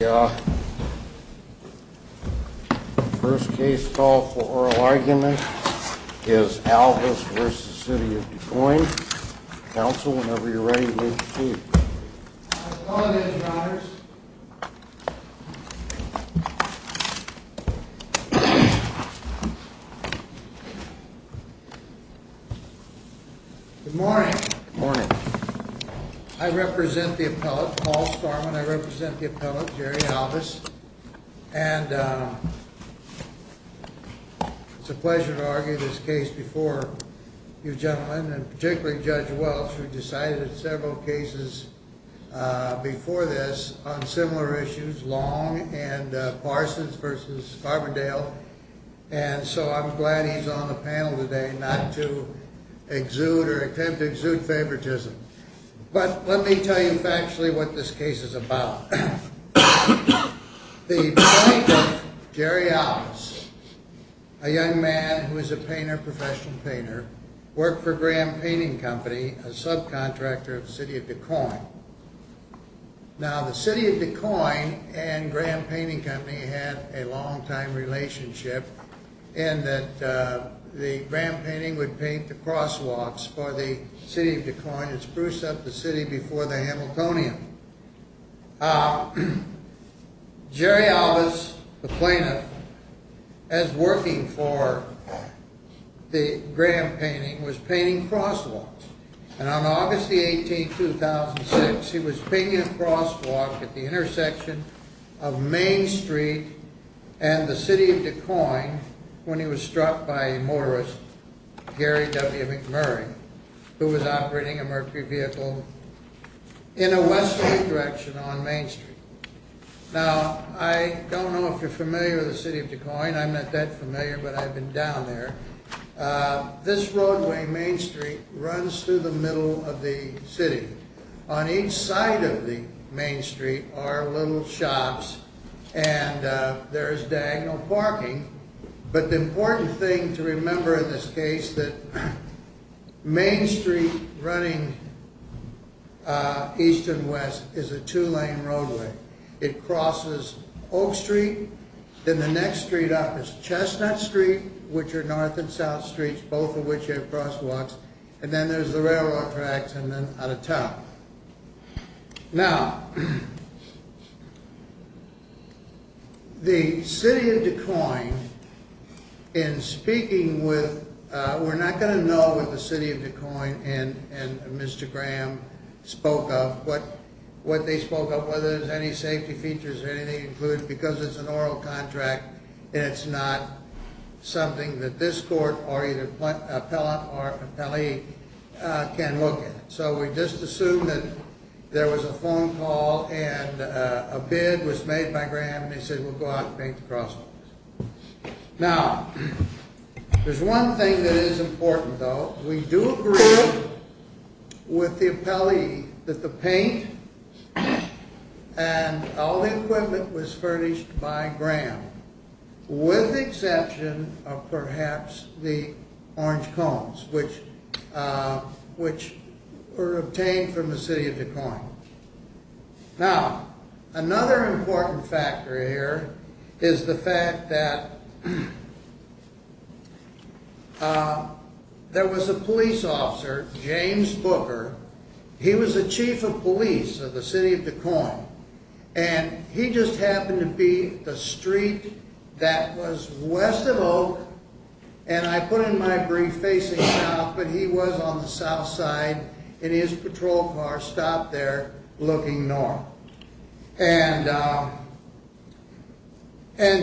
The first case call for oral argument is Alvis v. City of Duquoin. Counsel, whenever you're ready, please proceed. I apologize, Your Honors. Good morning. Good morning. I represent the appellate, Paul Storm, and I represent the appellate, Jerry Alvis. And it's a pleasure to argue this case before you gentlemen, and particularly Judge Welch, who decided several cases before this on similar issues, Long and Parsons v. Farberdale. And so I'm glad he's on the panel today not to exude or attempt to exude favoritism. But let me tell you factually what this case is about. The plaintiff, Jerry Alvis, a young man who is a painter, professional painter, worked for Graham Painting Company, a subcontractor of City of Duquoin. Now, the City of Duquoin and Graham Painting Company had a long-time relationship in that the Graham Painting would paint the crosswalks for the City of Duquoin and spruce up the city before the Hamiltonian. Jerry Alvis, the plaintiff, as working for the Graham Painting, was painting crosswalks. And on August 18, 2006, he was painting a crosswalk at the intersection of Main Street and the City of Duquoin when he was struck by a motorist, Gary W. McMurray, who was operating a Mercury vehicle in a westward direction on Main Street. Now, I don't know if you're familiar with the City of Duquoin. I'm not that familiar, but I've been down there. This roadway, Main Street, runs through the middle of the city. On each side of the Main Street are little shops and there is diagonal parking. But the important thing to remember in this case that Main Street running east and west is a two-lane roadway. It crosses Oak Street. Then the next street up is Chestnut Street, which are north and south streets, both of which have crosswalks. And then there's the railroad tracks and then out of town. Now, the City of Duquoin, in speaking with... We're not going to know what the City of Duquoin and Mr. Graham spoke of. What they spoke of, whether there's any safety features or anything included, because it's an oral contract and it's not something that this court or either appellate or appellee can look at. So we just assume that there was a phone call and a bid was made by Graham and he said, we'll go out and paint the crosswalks. Now, there's one thing that is important, though. We do agree with the appellee that the paint and all the equipment was furnished by Graham, with the exception of perhaps the orange cones, which were obtained from the City of Duquoin. Now, another important factor here is the fact that there was a police officer, James Booker. He was the chief of police of the City of Duquoin. And he just happened to be the street that was west of Oak. And I put in my brief facing south, but he was on the south side and his patrol car stopped there looking north. And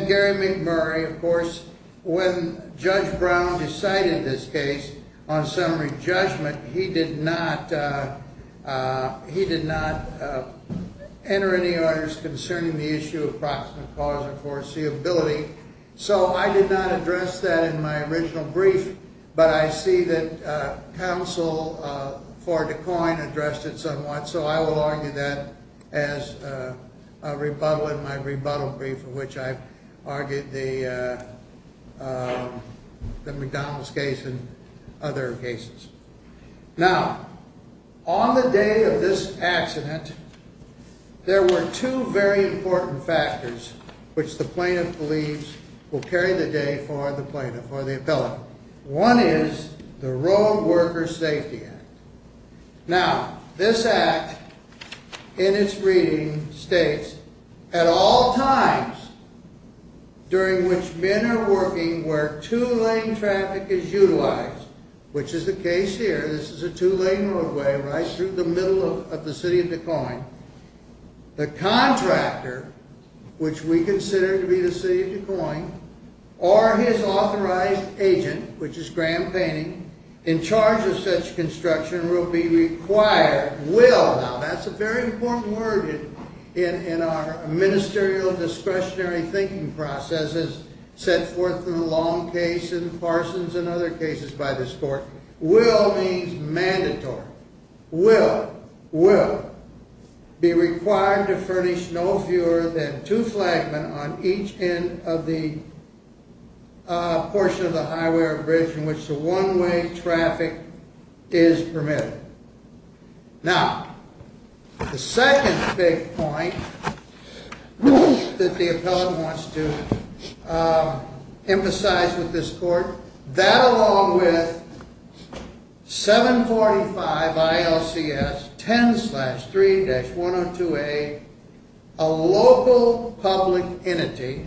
Gary McMurray, of course, when Judge Brown decided this case on summary judgment, he did not enter any orders concerning the issue of proximate cause or foreseeability. So I did not address that in my original brief, but I see that counsel for Duquoin addressed it somewhat, so I will argue that as a rebuttal in my rebuttal brief in which I argued the McDonald's case and other cases. Now, on the day of this accident, there were two very important factors which the plaintiff believes will carry the day for the plaintiff, for the appellant. One is the Road Worker Safety Act. Now, this act in its reading states, at all times during which men are working where two-lane traffic is utilized, which is the case here, this is a two-lane roadway right through the middle of the City of Duquoin, the contractor, which we consider to be the City of Duquoin, or his authorized agent, which is Graham Painting, in charge of such construction will be required, will, now that's a very important word in our ministerial discretionary thinking process as set forth in the Long case and Parsons and other cases by this court, will means mandatory, will, will be required to furnish no fewer than two flagments on each end of the portion of the highway or bridge in which the one-way traffic is permitted. Now, the second big point that the appellant wants to emphasize with this court, that along with 745 ILCS 10-3-102A, a local public entity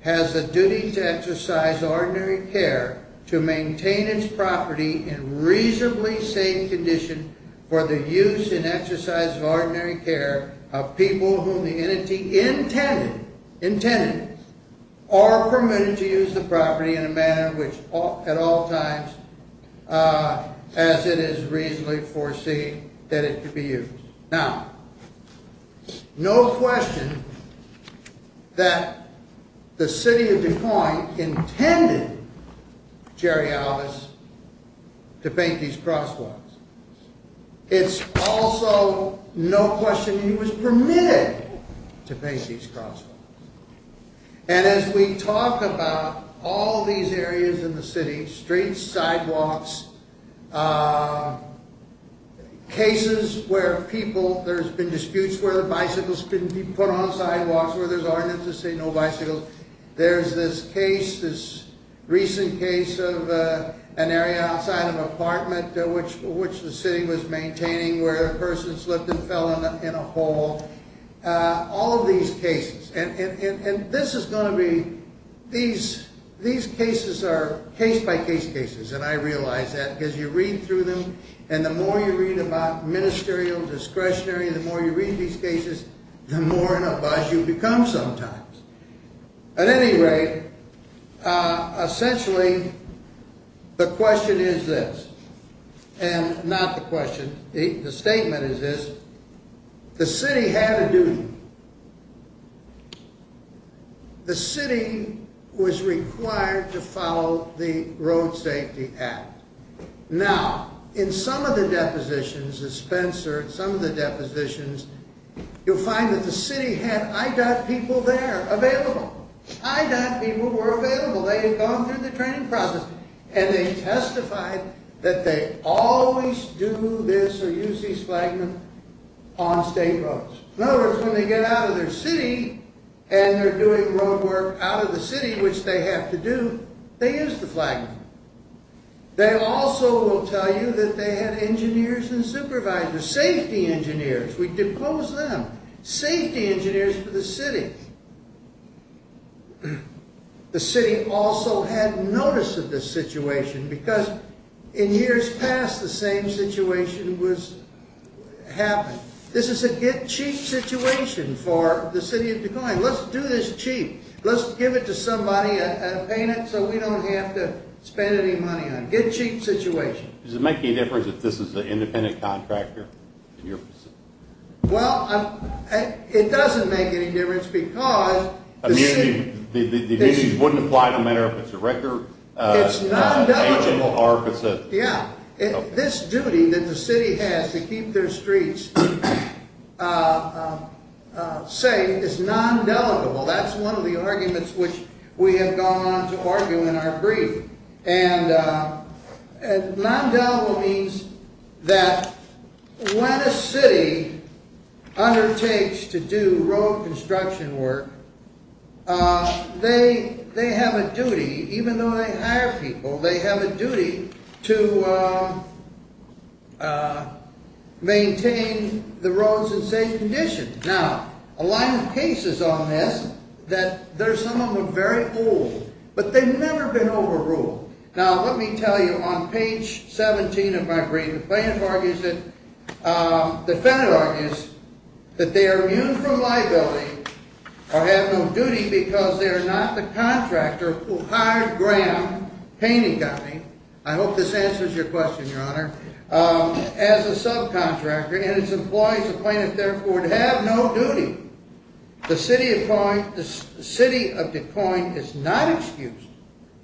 has a duty to exercise ordinary care to maintain its property in reasonably safe condition for the use and exercise of ordinary care of people whom the entity intended, intended, or permitted to use the property in a manner which at all times as it is reasonably foreseen that it could be used. Now, no question that the city of Des Moines intended Jerry Alvis to paint these crosswalks. It's also no question he was permitted to paint these crosswalks. And as we talk about all these areas in the city, streets, sidewalks, cases where people, there's been disputes where the bicycles have been put on sidewalks where there's ordinance to say no bicycles. There's this case, this recent case of an area outside of an apartment which the city was maintaining where a person slipped and fell in a hole. All of these cases, and this is going to be, these cases are case-by-case cases, and I realize that because you read through them, and the more you read about ministerial discretionary, the more you read these cases, the more in a buzz you become sometimes. At any rate, essentially the question is this, and not the question, the statement is this, the city had a duty. The city was required to follow the Road Safety Act. Now, in some of the depositions, the Spencer, some of the depositions, you'll find that the city had IDOT people there, available. IDOT people were available. They had gone through the training process, and they testified that they always do this or use these flagments on state roads. In other words, when they get out of their city, and they're doing road work out of the city, which they have to do, they use the flagment. They also will tell you that they had engineers and supervisors, safety engineers, we depose them, safety engineers for the city. The city also had notice of this situation, because in years past, the same situation happened. This is a get-cheap situation for the city of Des Moines. Let's do this cheap. Let's give it to somebody and pay it so we don't have to spend any money on it. Get-cheap situation. Does it make any difference if this is an independent contractor in your position? Well, it doesn't make any difference because the city... The duties wouldn't apply no matter if it's a record... It's non-duty. Yeah. This duty that the city has to keep their streets safe is non-delegable. That's one of the arguments which we have gone on to argue in our brief. And non-delegable means that when a city undertakes to do road construction work, they have a duty, even though they hire people, they have a duty to maintain the roads in safe condition. Now, a line of cases on this that some of them are very old, but they've never been overruled. Now, let me tell you, on page 17 of my brief, the defendant argues that they are immune from liability or have no duty because they are not the contractor who hired Graham Painting Company, I hope this answers your question, Your Honor, as a subcontractor and its employees appointed, therefore, to have no duty. The city of Des Moines is not excused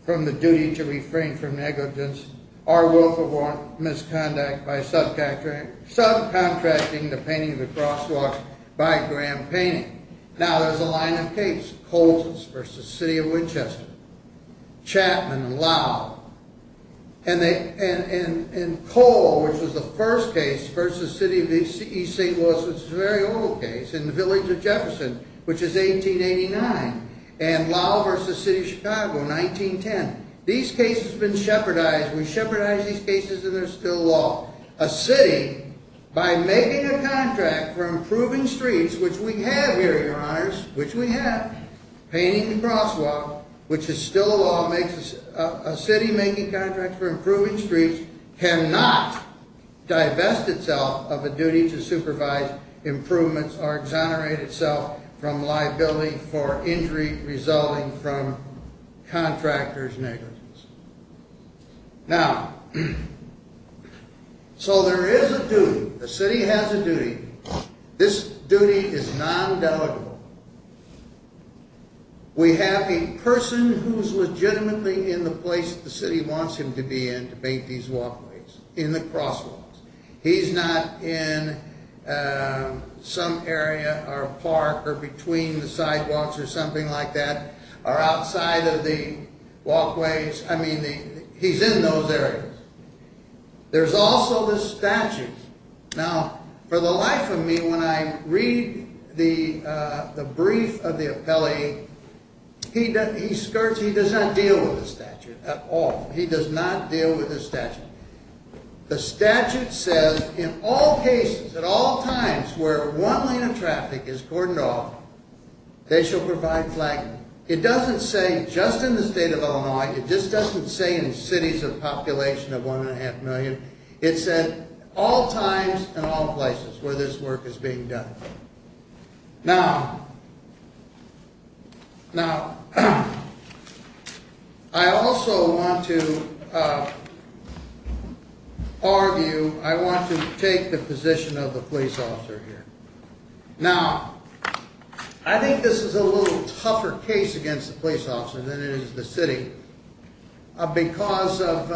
from the duty to refrain from negligence or willful misconduct by subcontracting the painting of the crosswalk by Graham Painting. Now, there's a line of cases, Coles v. City of Winchester, Chapman and Lowell. And Cole, which was the first case, v. City of East St. Louis, which is a very old case, in the Village of Jefferson, which is 1889, and Lowell v. City of Chicago, 1910. These cases have been shepherdized. We shepherdize these cases and they're still law. A city, by making a contract for improving streets, which we have here, Your Honors, which we have, painting the crosswalk, which is still a law, makes a city making contracts for improving streets, cannot divest itself of a duty to supervise improvements or exonerate itself from liability for injury resulting from contractors' negligence. Now, so there is a duty. The city has a duty. This duty is non-delegable. We have a person who's legitimately in the place the city wants him to be in to paint these walkways, in the crosswalks. He's not in some area or park or between the sidewalks or something like that or outside of the walkways. I mean, he's in those areas. There's also the statute. Now, for the life of me, when I read the brief of the appellee, he skirts, he does not deal with the statute at all. He does not deal with the statute. The statute says, in all cases, at all times, where one lane of traffic is cordoned off, they shall provide flagging. It doesn't say just in the state of Illinois. It just doesn't say in cities of population of one and a half million. It said all times and all places where this work is being done. Now, I also want to argue, I want to take the position of the police officer here. Now, I think this is a little tougher case against the police officer than it is the city because of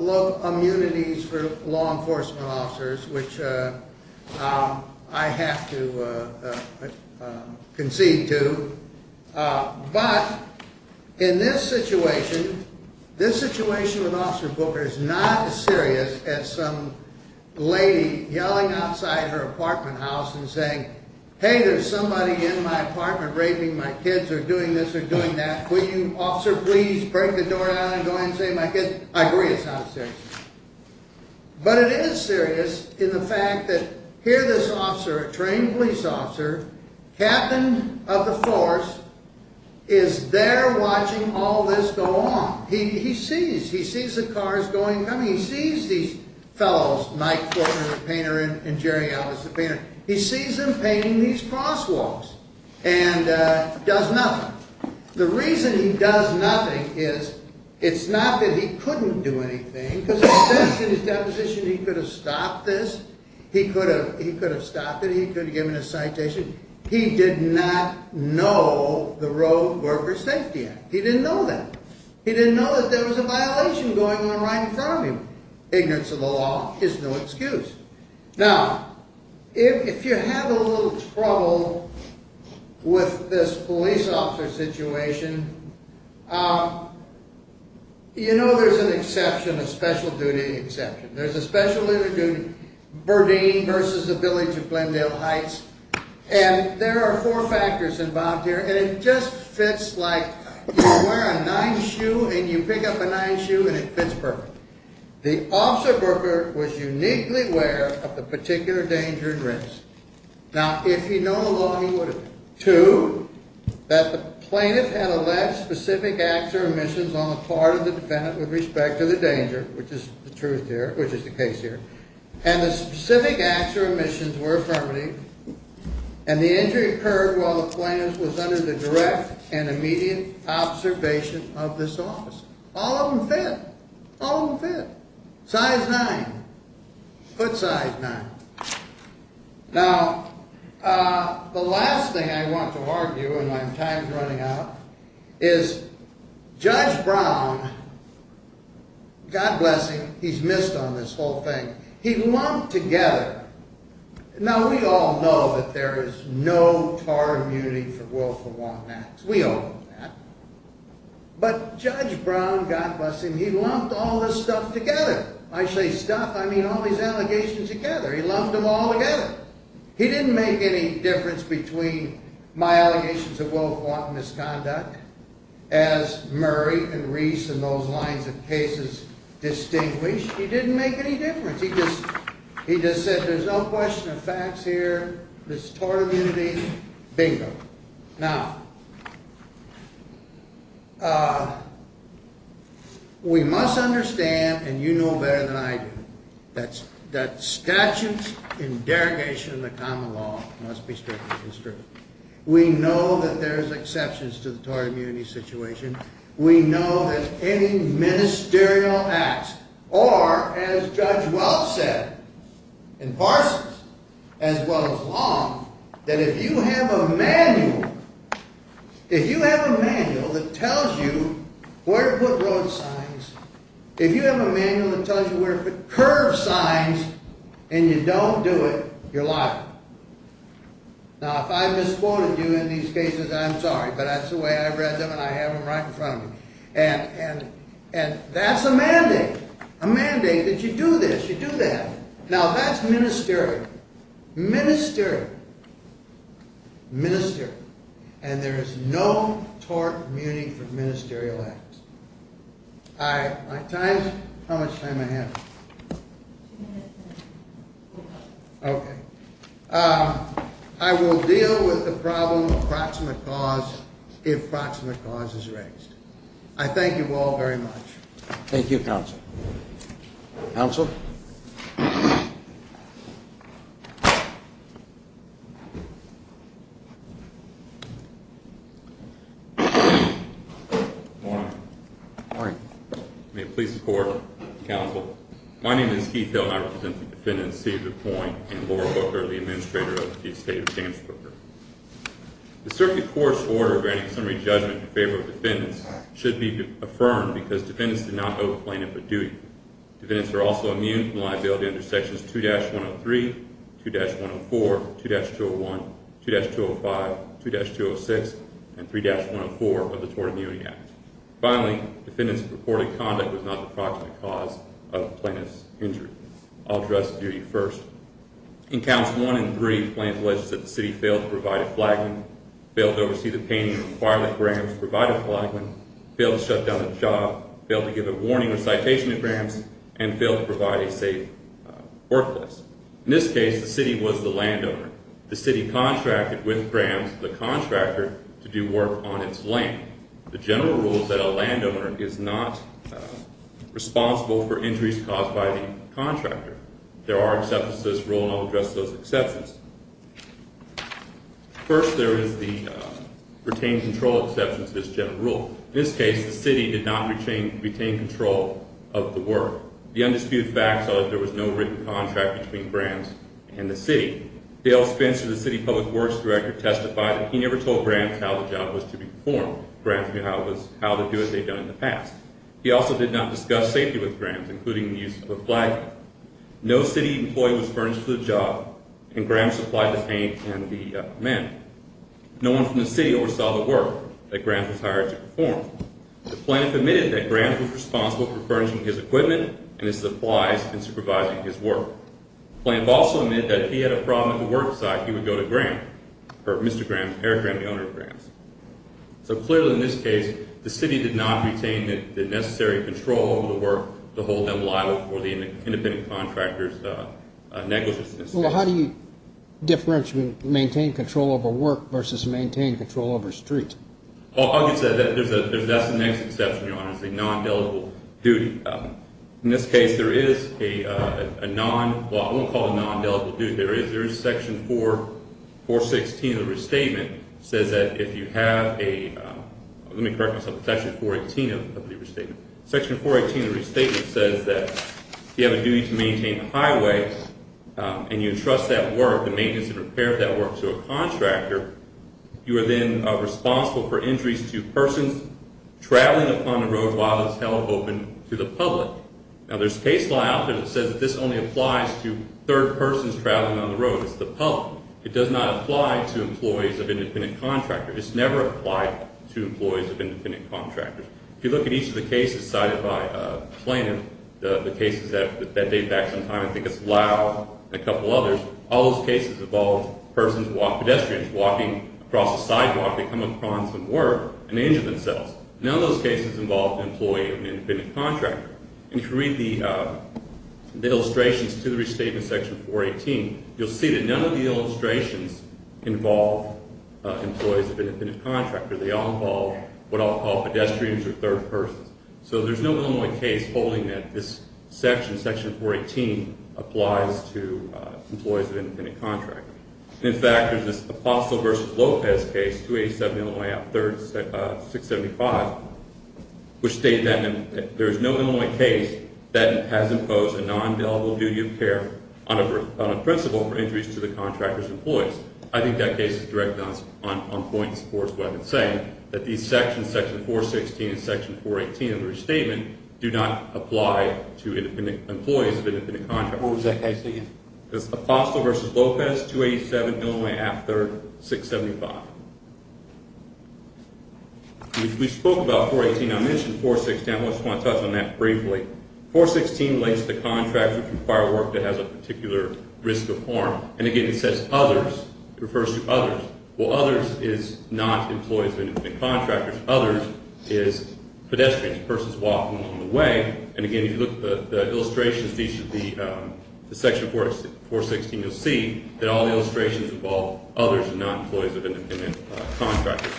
low immunities for law enforcement officers, which I have to concede to. But in this situation, this situation with Officer Booker is not as serious as some lady yelling outside her apartment house and saying, hey, there's somebody in my apartment raping my kids or doing this or doing that. Will you, officer, please break the door down and go ahead and save my kids? I agree it's not as serious. But it is serious in the fact that here this officer, a trained police officer, captain of the force, is there watching all this go on. He sees. He sees the cars going and coming. He sees these fellows, Mike Fortner, the painter, and Jerry Ellis, the painter. He sees them painting these crosswalks and does nothing. Now, the reason he does nothing is it's not that he couldn't do anything because in his deposition he could have stopped this. He could have stopped it. He could have given a citation. He did not know the Road Workers' Safety Act. He didn't know that. He didn't know that there was a violation going on right in front of him. Ignorance of the law is no excuse. Now, if you have a little trouble with this police officer situation, you know there's an exception, a special duty exception. There's a special duty, Burdine versus the village of Glendale Heights, and there are four factors involved here, and it just fits like you wear a nice shoe and you pick up a nice shoe and it fits perfect. The officer worker was uniquely aware of the particular danger and risk. Now, if he'd known the law, he would have. Two, that the plaintiff had alleged specific acts or omissions on the part of the defendant with respect to the danger, which is the truth here, which is the case here, and the specific acts or omissions were affirmative, and the injury occurred while the plaintiff was under the direct and immediate observation of this officer. All of them fit. All of them fit. Size 9. Foot size 9. Now, the last thing I want to argue, and my time's running out, is Judge Brown, God bless him, he's missed on this whole thing. He lumped together. Now, we all know that there is no car immunity for willful want acts. We all know that. But Judge Brown, God bless him, he lumped all this stuff together. When I say stuff, I mean all these allegations together. He lumped them all together. He didn't make any difference between my allegations of willful want misconduct as Murray and Reese and those lines of cases distinguish. He didn't make any difference. He just said there's no question of facts here. There's tort immunity. Bingo. Now, we must understand, and you know better than I do, that statutes in derogation of the common law must be strictly constricted. We know that there's exceptions to the tort immunity situation. We know that any ministerial acts are, as Judge Welch said, impartial as well as law, that if you have a manual, if you have a manual that tells you where to put road signs, if you have a manual that tells you where to put curve signs and you don't do it, you're a liar. Now, if I've misquoted you in these cases, I'm sorry, but that's the way I've read them and I have them right in front of me. And that's a mandate, a mandate that you do this, you do that. Now, that's ministerial, ministerial, ministerial. And there is no tort immunity for ministerial acts. All right, my time's, how much time I have? Two minutes. Okay. I will deal with the problem of proximate cause if proximate cause is raised. I thank you all very much. Thank you, counsel. Counsel? Good morning. Good morning. May it please the Court, counsel, my name is Keith Hill and I represent the defendants, Cedar Point, and Laura Booker, the administrator of the State of James Brooker. The circuit court's order granting summary judgment in favor of defendants should be affirmed because defendants did not owe the plaintiff a duty. Defendants are also immune from liability under Sections 2-103, 2-104, 2-201, 2-205, 2-206, and 3-104 of the Tort Immunity Act. Finally, defendants' purported conduct was not the proximate cause of the plaintiff's injury. I'll address the duty first. In Counts 1 and 3, the plaintiff alleged that the city failed to provide a flagman, failed to oversee the painting of the fire that Grahams provided the flagman, failed to shut down his job, failed to give a warning or citation to Grahams, and failed to provide a safe workplace. In this case, the city was the landowner. The city contracted with Grahams, the contractor, to do work on its land. The general rule is that a landowner is not responsible for injuries caused by the contractor. There are exceptions to this rule, and I'll address those exceptions. First, there is the retained control exception to this general rule. In this case, the city did not retain control of the work. The undisputed facts are that there was no written contract between Grahams and the city. Dale Spencer, the city public works director, testified that he never told Grahams how the job was to be performed. Grahams knew how to do what they'd done in the past. He also did not discuss safety with Grahams, including the use of a flagman. No city employee was furnished for the job, and Grahams supplied the paint and the men. No one from the city oversaw the work that Grahams was hired to perform. The plaintiff admitted that Grahams was responsible for furnishing his equipment and his supplies and supervising his work. The plaintiff also admitted that if he had a problem at the work site, he would go to Grahams, or Mr. Grahams, Eric Grahams, the owner of Grahams. So clearly in this case, the city did not retain the necessary control over the work to hold them liable for the independent contractor's negligence in this case. Well, how do you differentiate maintain control over work versus maintain control over streets? Well, I'll just say that that's the next exception, Your Honor. It's a non-delegable duty. In this case, there is a non—well, I won't call it a non-delegable duty. There is section 416 of the restatement that says that if you have a— Section 418 of the restatement says that if you have a duty to maintain a highway and you entrust that work, the maintenance and repair of that work, to a contractor, you are then responsible for injuries to persons traveling upon the road while it is held open to the public. Now, there's case law out there that says that this only applies to third persons traveling on the road. It's the public. It does not apply to employees of independent contractors. It's never applied to employees of independent contractors. If you look at each of the cases cited by Plaintiff, the cases that date back some time, I think it's Lau and a couple others, all those cases involve persons, pedestrians, walking across a sidewalk, they come upon some work and injure themselves. None of those cases involve an employee of an independent contractor. And if you read the illustrations to the restatement, section 418, you'll see that none of the illustrations involve employees of an independent contractor. They all involve what I'll call pedestrians or third persons. So there's no Illinois case holding that this section, section 418, applies to employees of an independent contractor. In fact, there's this Apostle v. Lopez case, 287 Illinois Act, 675, which stated that there is no Illinois case that has imposed a non-indelible duty of care on a principal for injuries to the contractor's employees. I think that case is directed on point and supports what I've been saying, that these sections, section 416 and section 418 of the restatement, do not apply to employees of independent contractors. What was that case again? It was Apostle v. Lopez, 287 Illinois Act, 675. We spoke about 418. I mentioned 416. I just want to touch on that briefly. 416 relates to contracts which require work that has a particular risk of harm. And again, it says others. It refers to others. Well, others is not employees of independent contractors. Others is pedestrians, persons walking along the way. And again, if you look at the illustrations, these are the section 416, you'll see that all the illustrations involve others and not employees of independent contractors.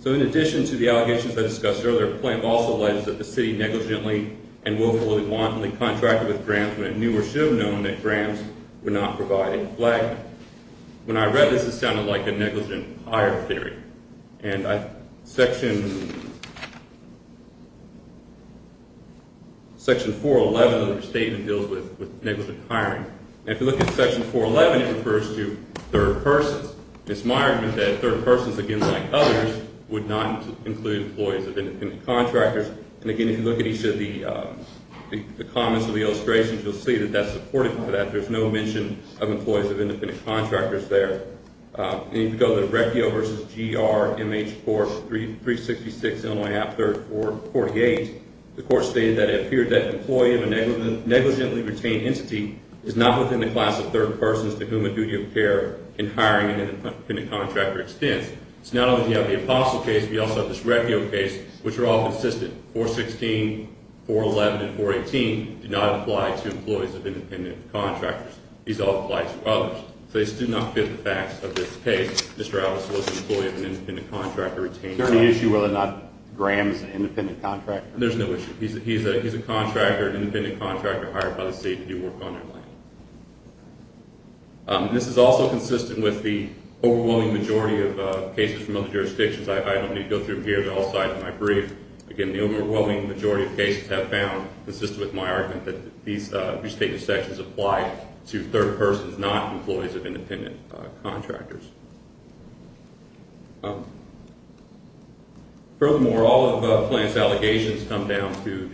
So in addition to the allegations I discussed earlier, the plan also alleges that the city negligently and willfully, wantonly contracted with Grams when it knew or should have known that Grams would not provide a flag. When I read this, it sounded like a negligent hire theory. And section 411 of the restatement deals with negligent hiring. And if you look at section 411, it refers to third persons. It's my argument that third persons, again like others, would not include employees of independent contractors. And again, if you look at each of the comments of the illustrations, you'll see that that's supported for that. There's no mention of employees of independent contractors there. And if you go to the Recchio v. GR MH 4366 Illinois Act 3448, the court stated that it appeared that an employee of a negligently retained entity is not within the class of third persons to whom a duty of care in hiring an independent contractor extends. So not only do you have the Apostle case, but you also have this Recchio case, which are all consistent. 416, 411, and 418 do not apply to employees of independent contractors. These all apply to others. So these do not fit the facts of this case. Mr. Atlas was an employee of an independent contractor retaining entity. Is there an issue whether or not Grams is an independent contractor? There's no issue. He's a contractor, an independent contractor hired by the state to do work on their land. This is also consistent with the overwhelming majority of cases from other jurisdictions. I don't need to go through them here. They're all cited in my brief. Again, the overwhelming majority of cases have found, consistent with my argument, that these restated sections apply to third persons, not employees of independent contractors. Furthermore, all of the plaintiff's allegations come down to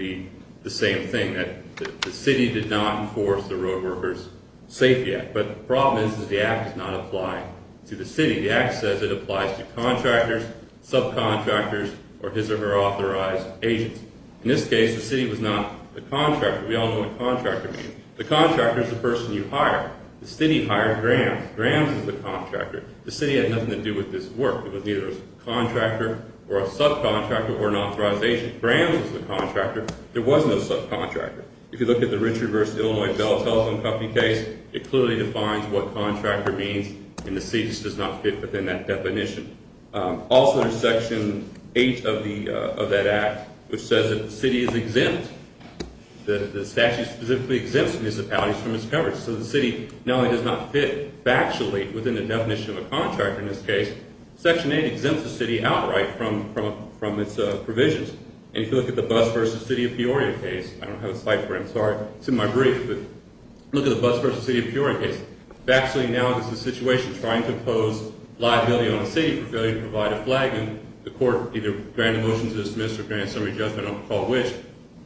the same thing, that the city did not enforce the Roadworkers' Safety Act. But the problem is that the Act does not apply to the city. The Act says it applies to contractors, subcontractors, or his or her authorized agents. In this case, the city was not the contractor. We all know what contractor means. The contractor is the person you hire. The city hired Grams. Grams is the contractor. The city had nothing to do with this work. It was neither a contractor or a subcontractor or an authorization. Grams is the contractor. There was no subcontractor. If you look at the Richard v. Illinois Bell Telephone Company case, it clearly defines what contractor means, and the city just does not fit within that definition. Also, there's Section 8 of that Act, which says that the city is exempt. The statute specifically exempts municipalities from its coverage. So the city not only does not fit factually within the definition of a contractor in this case, Section 8 exempts the city outright from its provisions. And if you look at the Bus v. City of Peoria case, I don't have a slide for it. I'm sorry. It's in my brief. But look at the Bus v. City of Peoria case. Factually, now this is a situation trying to impose liability on a city for failing to provide a flag, and the court either granted a motion to dismiss or granted a summary judgment, I don't recall which,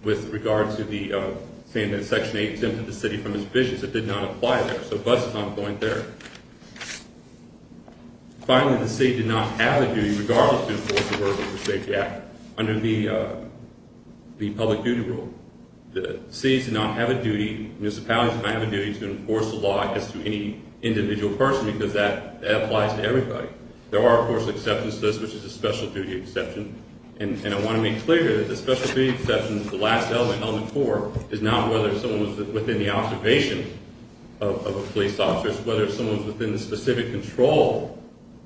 with regard to saying that Section 8 exempted the city from its provisions. It did not apply there. So Bus is not going there. Finally, the city did not have a duty, regardless to enforce the Worker's Safety Act, under the public duty rule. The city does not have a duty, municipalities do not have a duty to enforce the law as to any individual person because that applies to everybody. There are, of course, exceptions to this, which is a special duty exception. And I want to make clear that the special duty exception, the last element on the court, is not whether someone's within the observation of a police officer, it's whether someone's within the specific control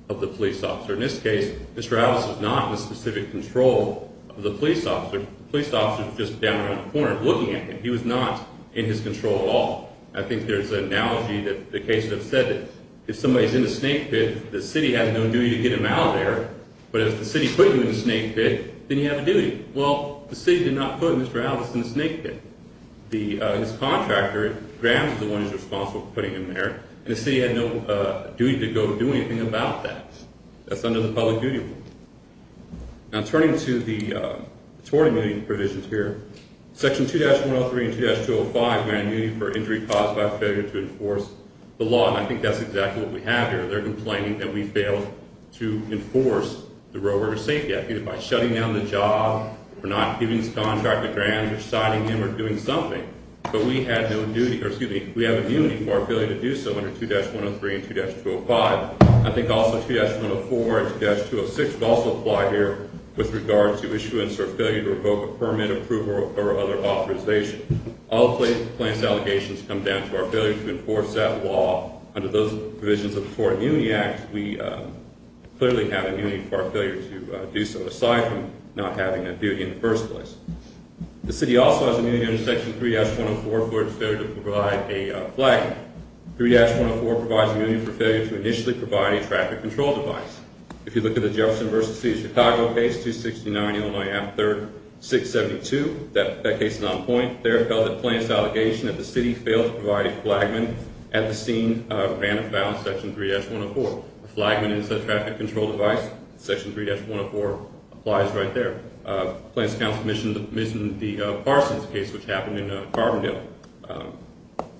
of the police officer. In this case, Mr. Alice was not in the specific control of the police officer. The police officer was just down around the corner looking at him. He was not in his control at all. I think there's an analogy that the cases have said that if somebody's in the snake pit, the city has no duty to get him out of there, but if the city put you in the snake pit, then you have a duty. Well, the city did not put Mr. Alice in the snake pit. His contractor, Graham, is the one who's responsible for putting him there, and the city had no duty to go do anything about that. That's under the public duty rule. Now, turning to the tort immunity provisions here, Section 2-103 and 2-205 grant immunity for injury caused by failure to enforce the law, and I think that's exactly what we have here. They're complaining that we failed to enforce the Roadworker Safety Act, either by shutting down the job or not giving this contract to Graham or siding him or doing something, but we have immunity for our failure to do so under 2-103 and 2-205. I think also 2-104 and 2-206 would also apply here with regard to issuance or failure to revoke a permit, approval, or other authorization. All the plaintiff's allegations come down to our failure to enforce that law. Under those provisions of the Tort Immunity Act, we clearly have immunity for our failure to do so, aside from not having a duty in the first place. The city also has immunity under Section 3-104 for its failure to provide a flag. 3-104 provides immunity for failure to initially provide a traffic control device. If you look at the Jefferson vs. City of Chicago case, 269 Illinois Ave. 3rd, 672, that case is on point. There it fell that the plaintiff's allegation that the city failed to provide a flagman at the scene ran afoul of Section 3-104. A flagman is a traffic control device. Section 3-104 applies right there. Plaintiff's counsel commissioned the Parsons case, which happened in Carbondale.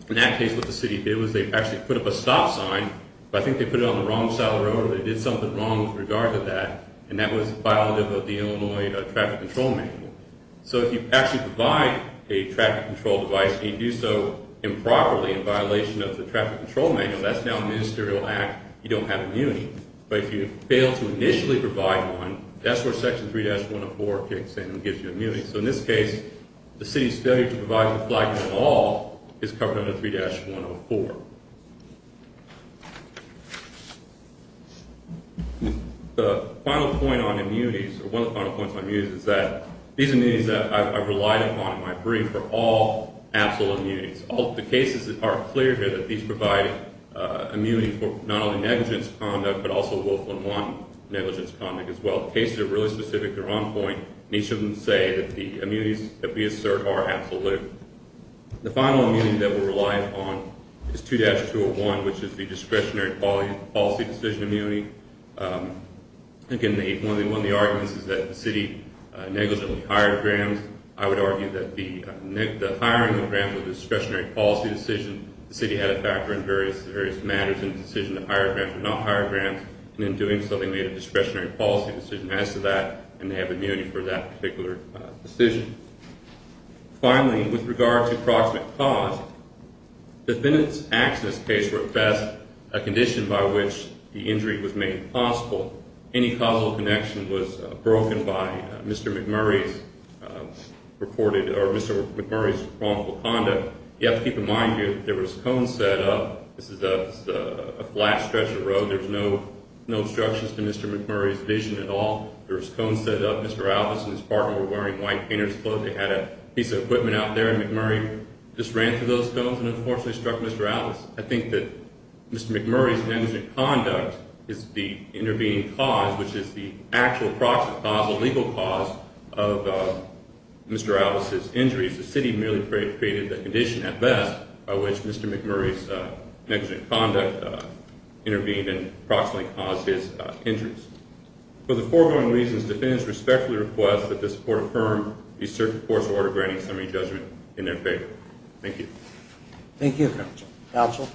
In that case, what the city did was they actually put up a stop sign, but I think they put it on the wrong side of the road or they did something wrong with regard to that, and that was violative of the Illinois Traffic Control Manual. So if you actually provide a traffic control device, and you do so improperly in violation of the Traffic Control Manual, that's now a ministerial act. You don't have immunity. But if you fail to initially provide one, that's where Section 3-104 kicks in and gives you immunity. So in this case, the city's failure to provide a flagman at all is covered under 3-104. The final point on immunities, or one of the final points on immunities, is that these immunities that I've relied upon in my brief are all absolute immunities. The cases are clear here that these provide immunity for not only negligence conduct, but also wolf-1-1 negligence conduct as well. The cases are really specific to their own point, and each of them say that the immunities that we assert are absolute. The final immunity that we rely upon is 2-201, which is the discretionary policy decision immunity. Again, one of the arguments is that the city negligently hired grams. I would argue that the hiring of grams was a discretionary policy decision. The city had a factor in various matters in the decision to hire grams or not hire grams, and in doing so, they made a discretionary policy decision as to that, and they have immunity for that particular decision. Finally, with regard to proximate cause, defendants' actions in this case were at best a condition by which the injury was made possible. Any causal connection was broken by Mr. McMurray's reported or Mr. McMurray's wrongful conduct. You have to keep in mind here that there was a cone set up. This is a flat stretch of road. There's no obstructions to Mr. McMurray's vision at all. There was a cone set up. Mr. Alice and his partner were wearing white painter's clothes. They had a piece of equipment out there, and McMurray just ran through those cones and unfortunately struck Mr. Alice. I think that Mr. McMurray's negligent conduct is the intervening cause, which is the actual proximate cause, the legal cause of Mr. Alice's injuries. The city merely created the condition at best by which Mr. McMurray's negligent conduct intervened and approximately caused his injuries. For the foregoing reasons, defendants respectfully request that this court affirm the circuit court's order granting summary judgment in their favor. Thank you. Thank you, counsel.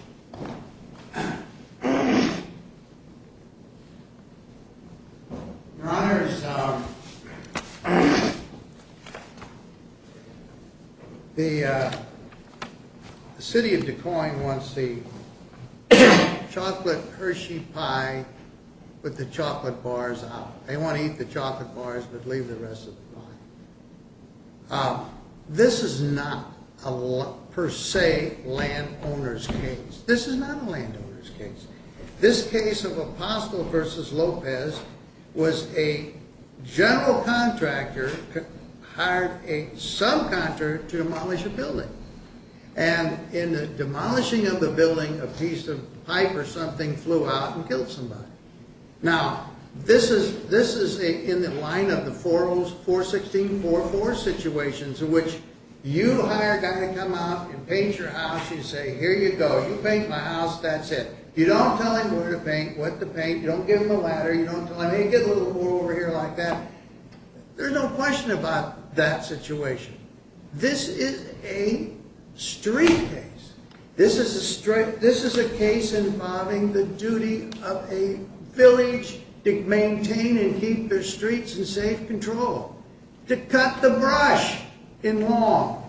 Your Honor, the city of Des Moines wants the chocolate Hershey pie with the chocolate bars out. They want to eat the chocolate bars but leave the rest of the pie. This is not a per se landowner's case. This is not a landowner's case. This case of Apostle v. Lopez was a general contractor hired a subcontractor to demolish a building. And in the demolishing of the building, a piece of pipe or something flew out and killed somebody. Now, this is in the line of the 41644 situations in which you hire a guy to come out and paint your house. You say, here you go, you paint my house, that's it. You don't tell him where to paint, what to paint. You don't give him a ladder. You don't tell him, hey, get a little more over here like that. There's no question about that situation. This is a street case. This is a case involving the duty of a village to maintain and keep their streets in safe control, to cut the brush in law,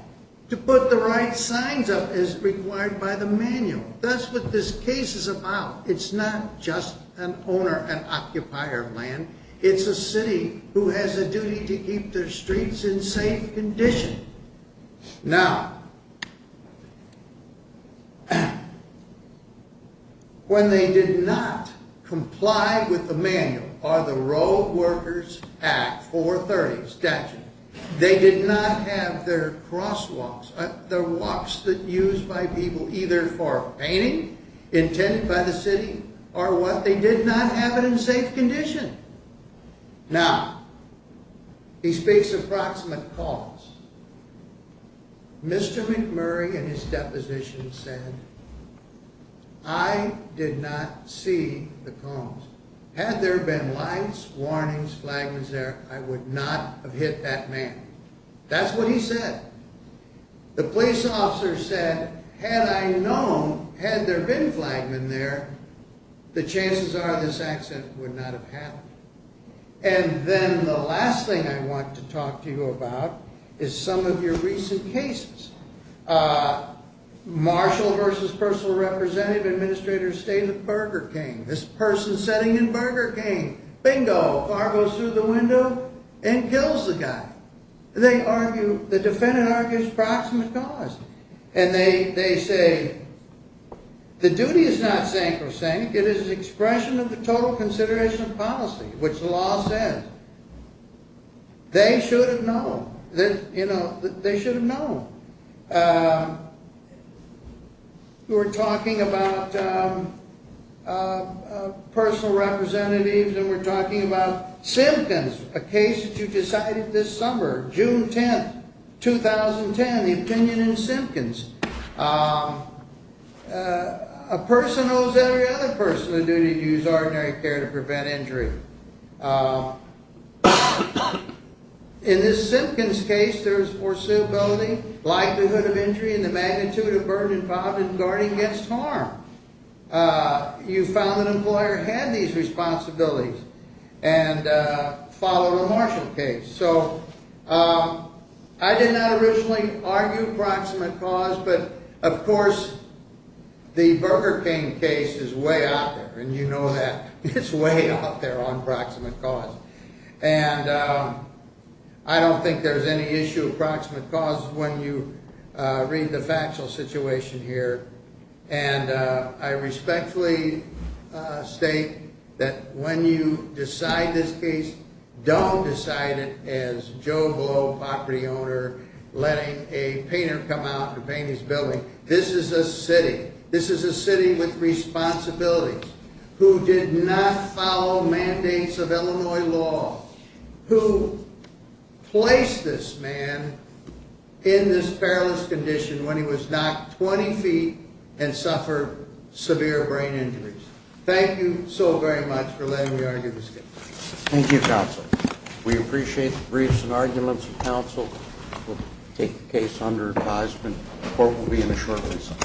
to put the right signs up as required by the manual. That's what this case is about. It's not just an owner and occupier of land. It's a city who has a duty to keep their streets in safe condition. Now, when they did not comply with the manual or the Road Workers Act 430 statute, they did not have their crosswalks, the walks that used by people either for painting intended by the city or what, they did not have it in safe condition. Now, he speaks of proximate cause. Mr. McMurray in his deposition said, I did not see the cones. Had there been lights, warnings, flagmen there, I would not have hit that man. That's what he said. The police officer said, had I known, had there been flagmen there, the chances are this accident would not have happened. And then the last thing I want to talk to you about is some of your recent cases. Marshall versus personal representative administrator stayed at Burger King. This person sitting in Burger King, bingo, car goes through the window and kills the guy. They argue, the defendant argues proximate cause. And they say, the duty is not sink or sink. It is an expression of the total consideration of policy, which the law says. They should have known that, you know, they should have known. We're talking about personal representatives and we're talking about Simpkins, a case that you decided this summer, June 10th, 2010, the opinion in Simpkins. A person owes every other person a duty to use ordinary care to prevent injury. In this Simpkins case, there's foreseeability, likelihood of injury, and the magnitude of burden involved in guarding against harm. You found that an employer had these responsibilities. And follow the Marshall case. So I did not originally argue proximate cause, but of course, the Burger King case is way out there. And you know that it's way out there on proximate cause. And I don't think there's any issue of proximate cause when you read the factual situation here. And I respectfully state that when you decide this case, don't decide it as Joe Globe, property owner, letting a painter come out and paint his building. This is a city. This is a city with responsibilities, who did not follow mandates of Illinois law, who placed this man in this perilous condition when he was knocked 20 feet and suffered severe brain injuries. Thank you so very much for letting me argue this case. Thank you, counsel. We appreciate the briefs and arguments of counsel. We'll take the case under advisement. The court will be in a short visit.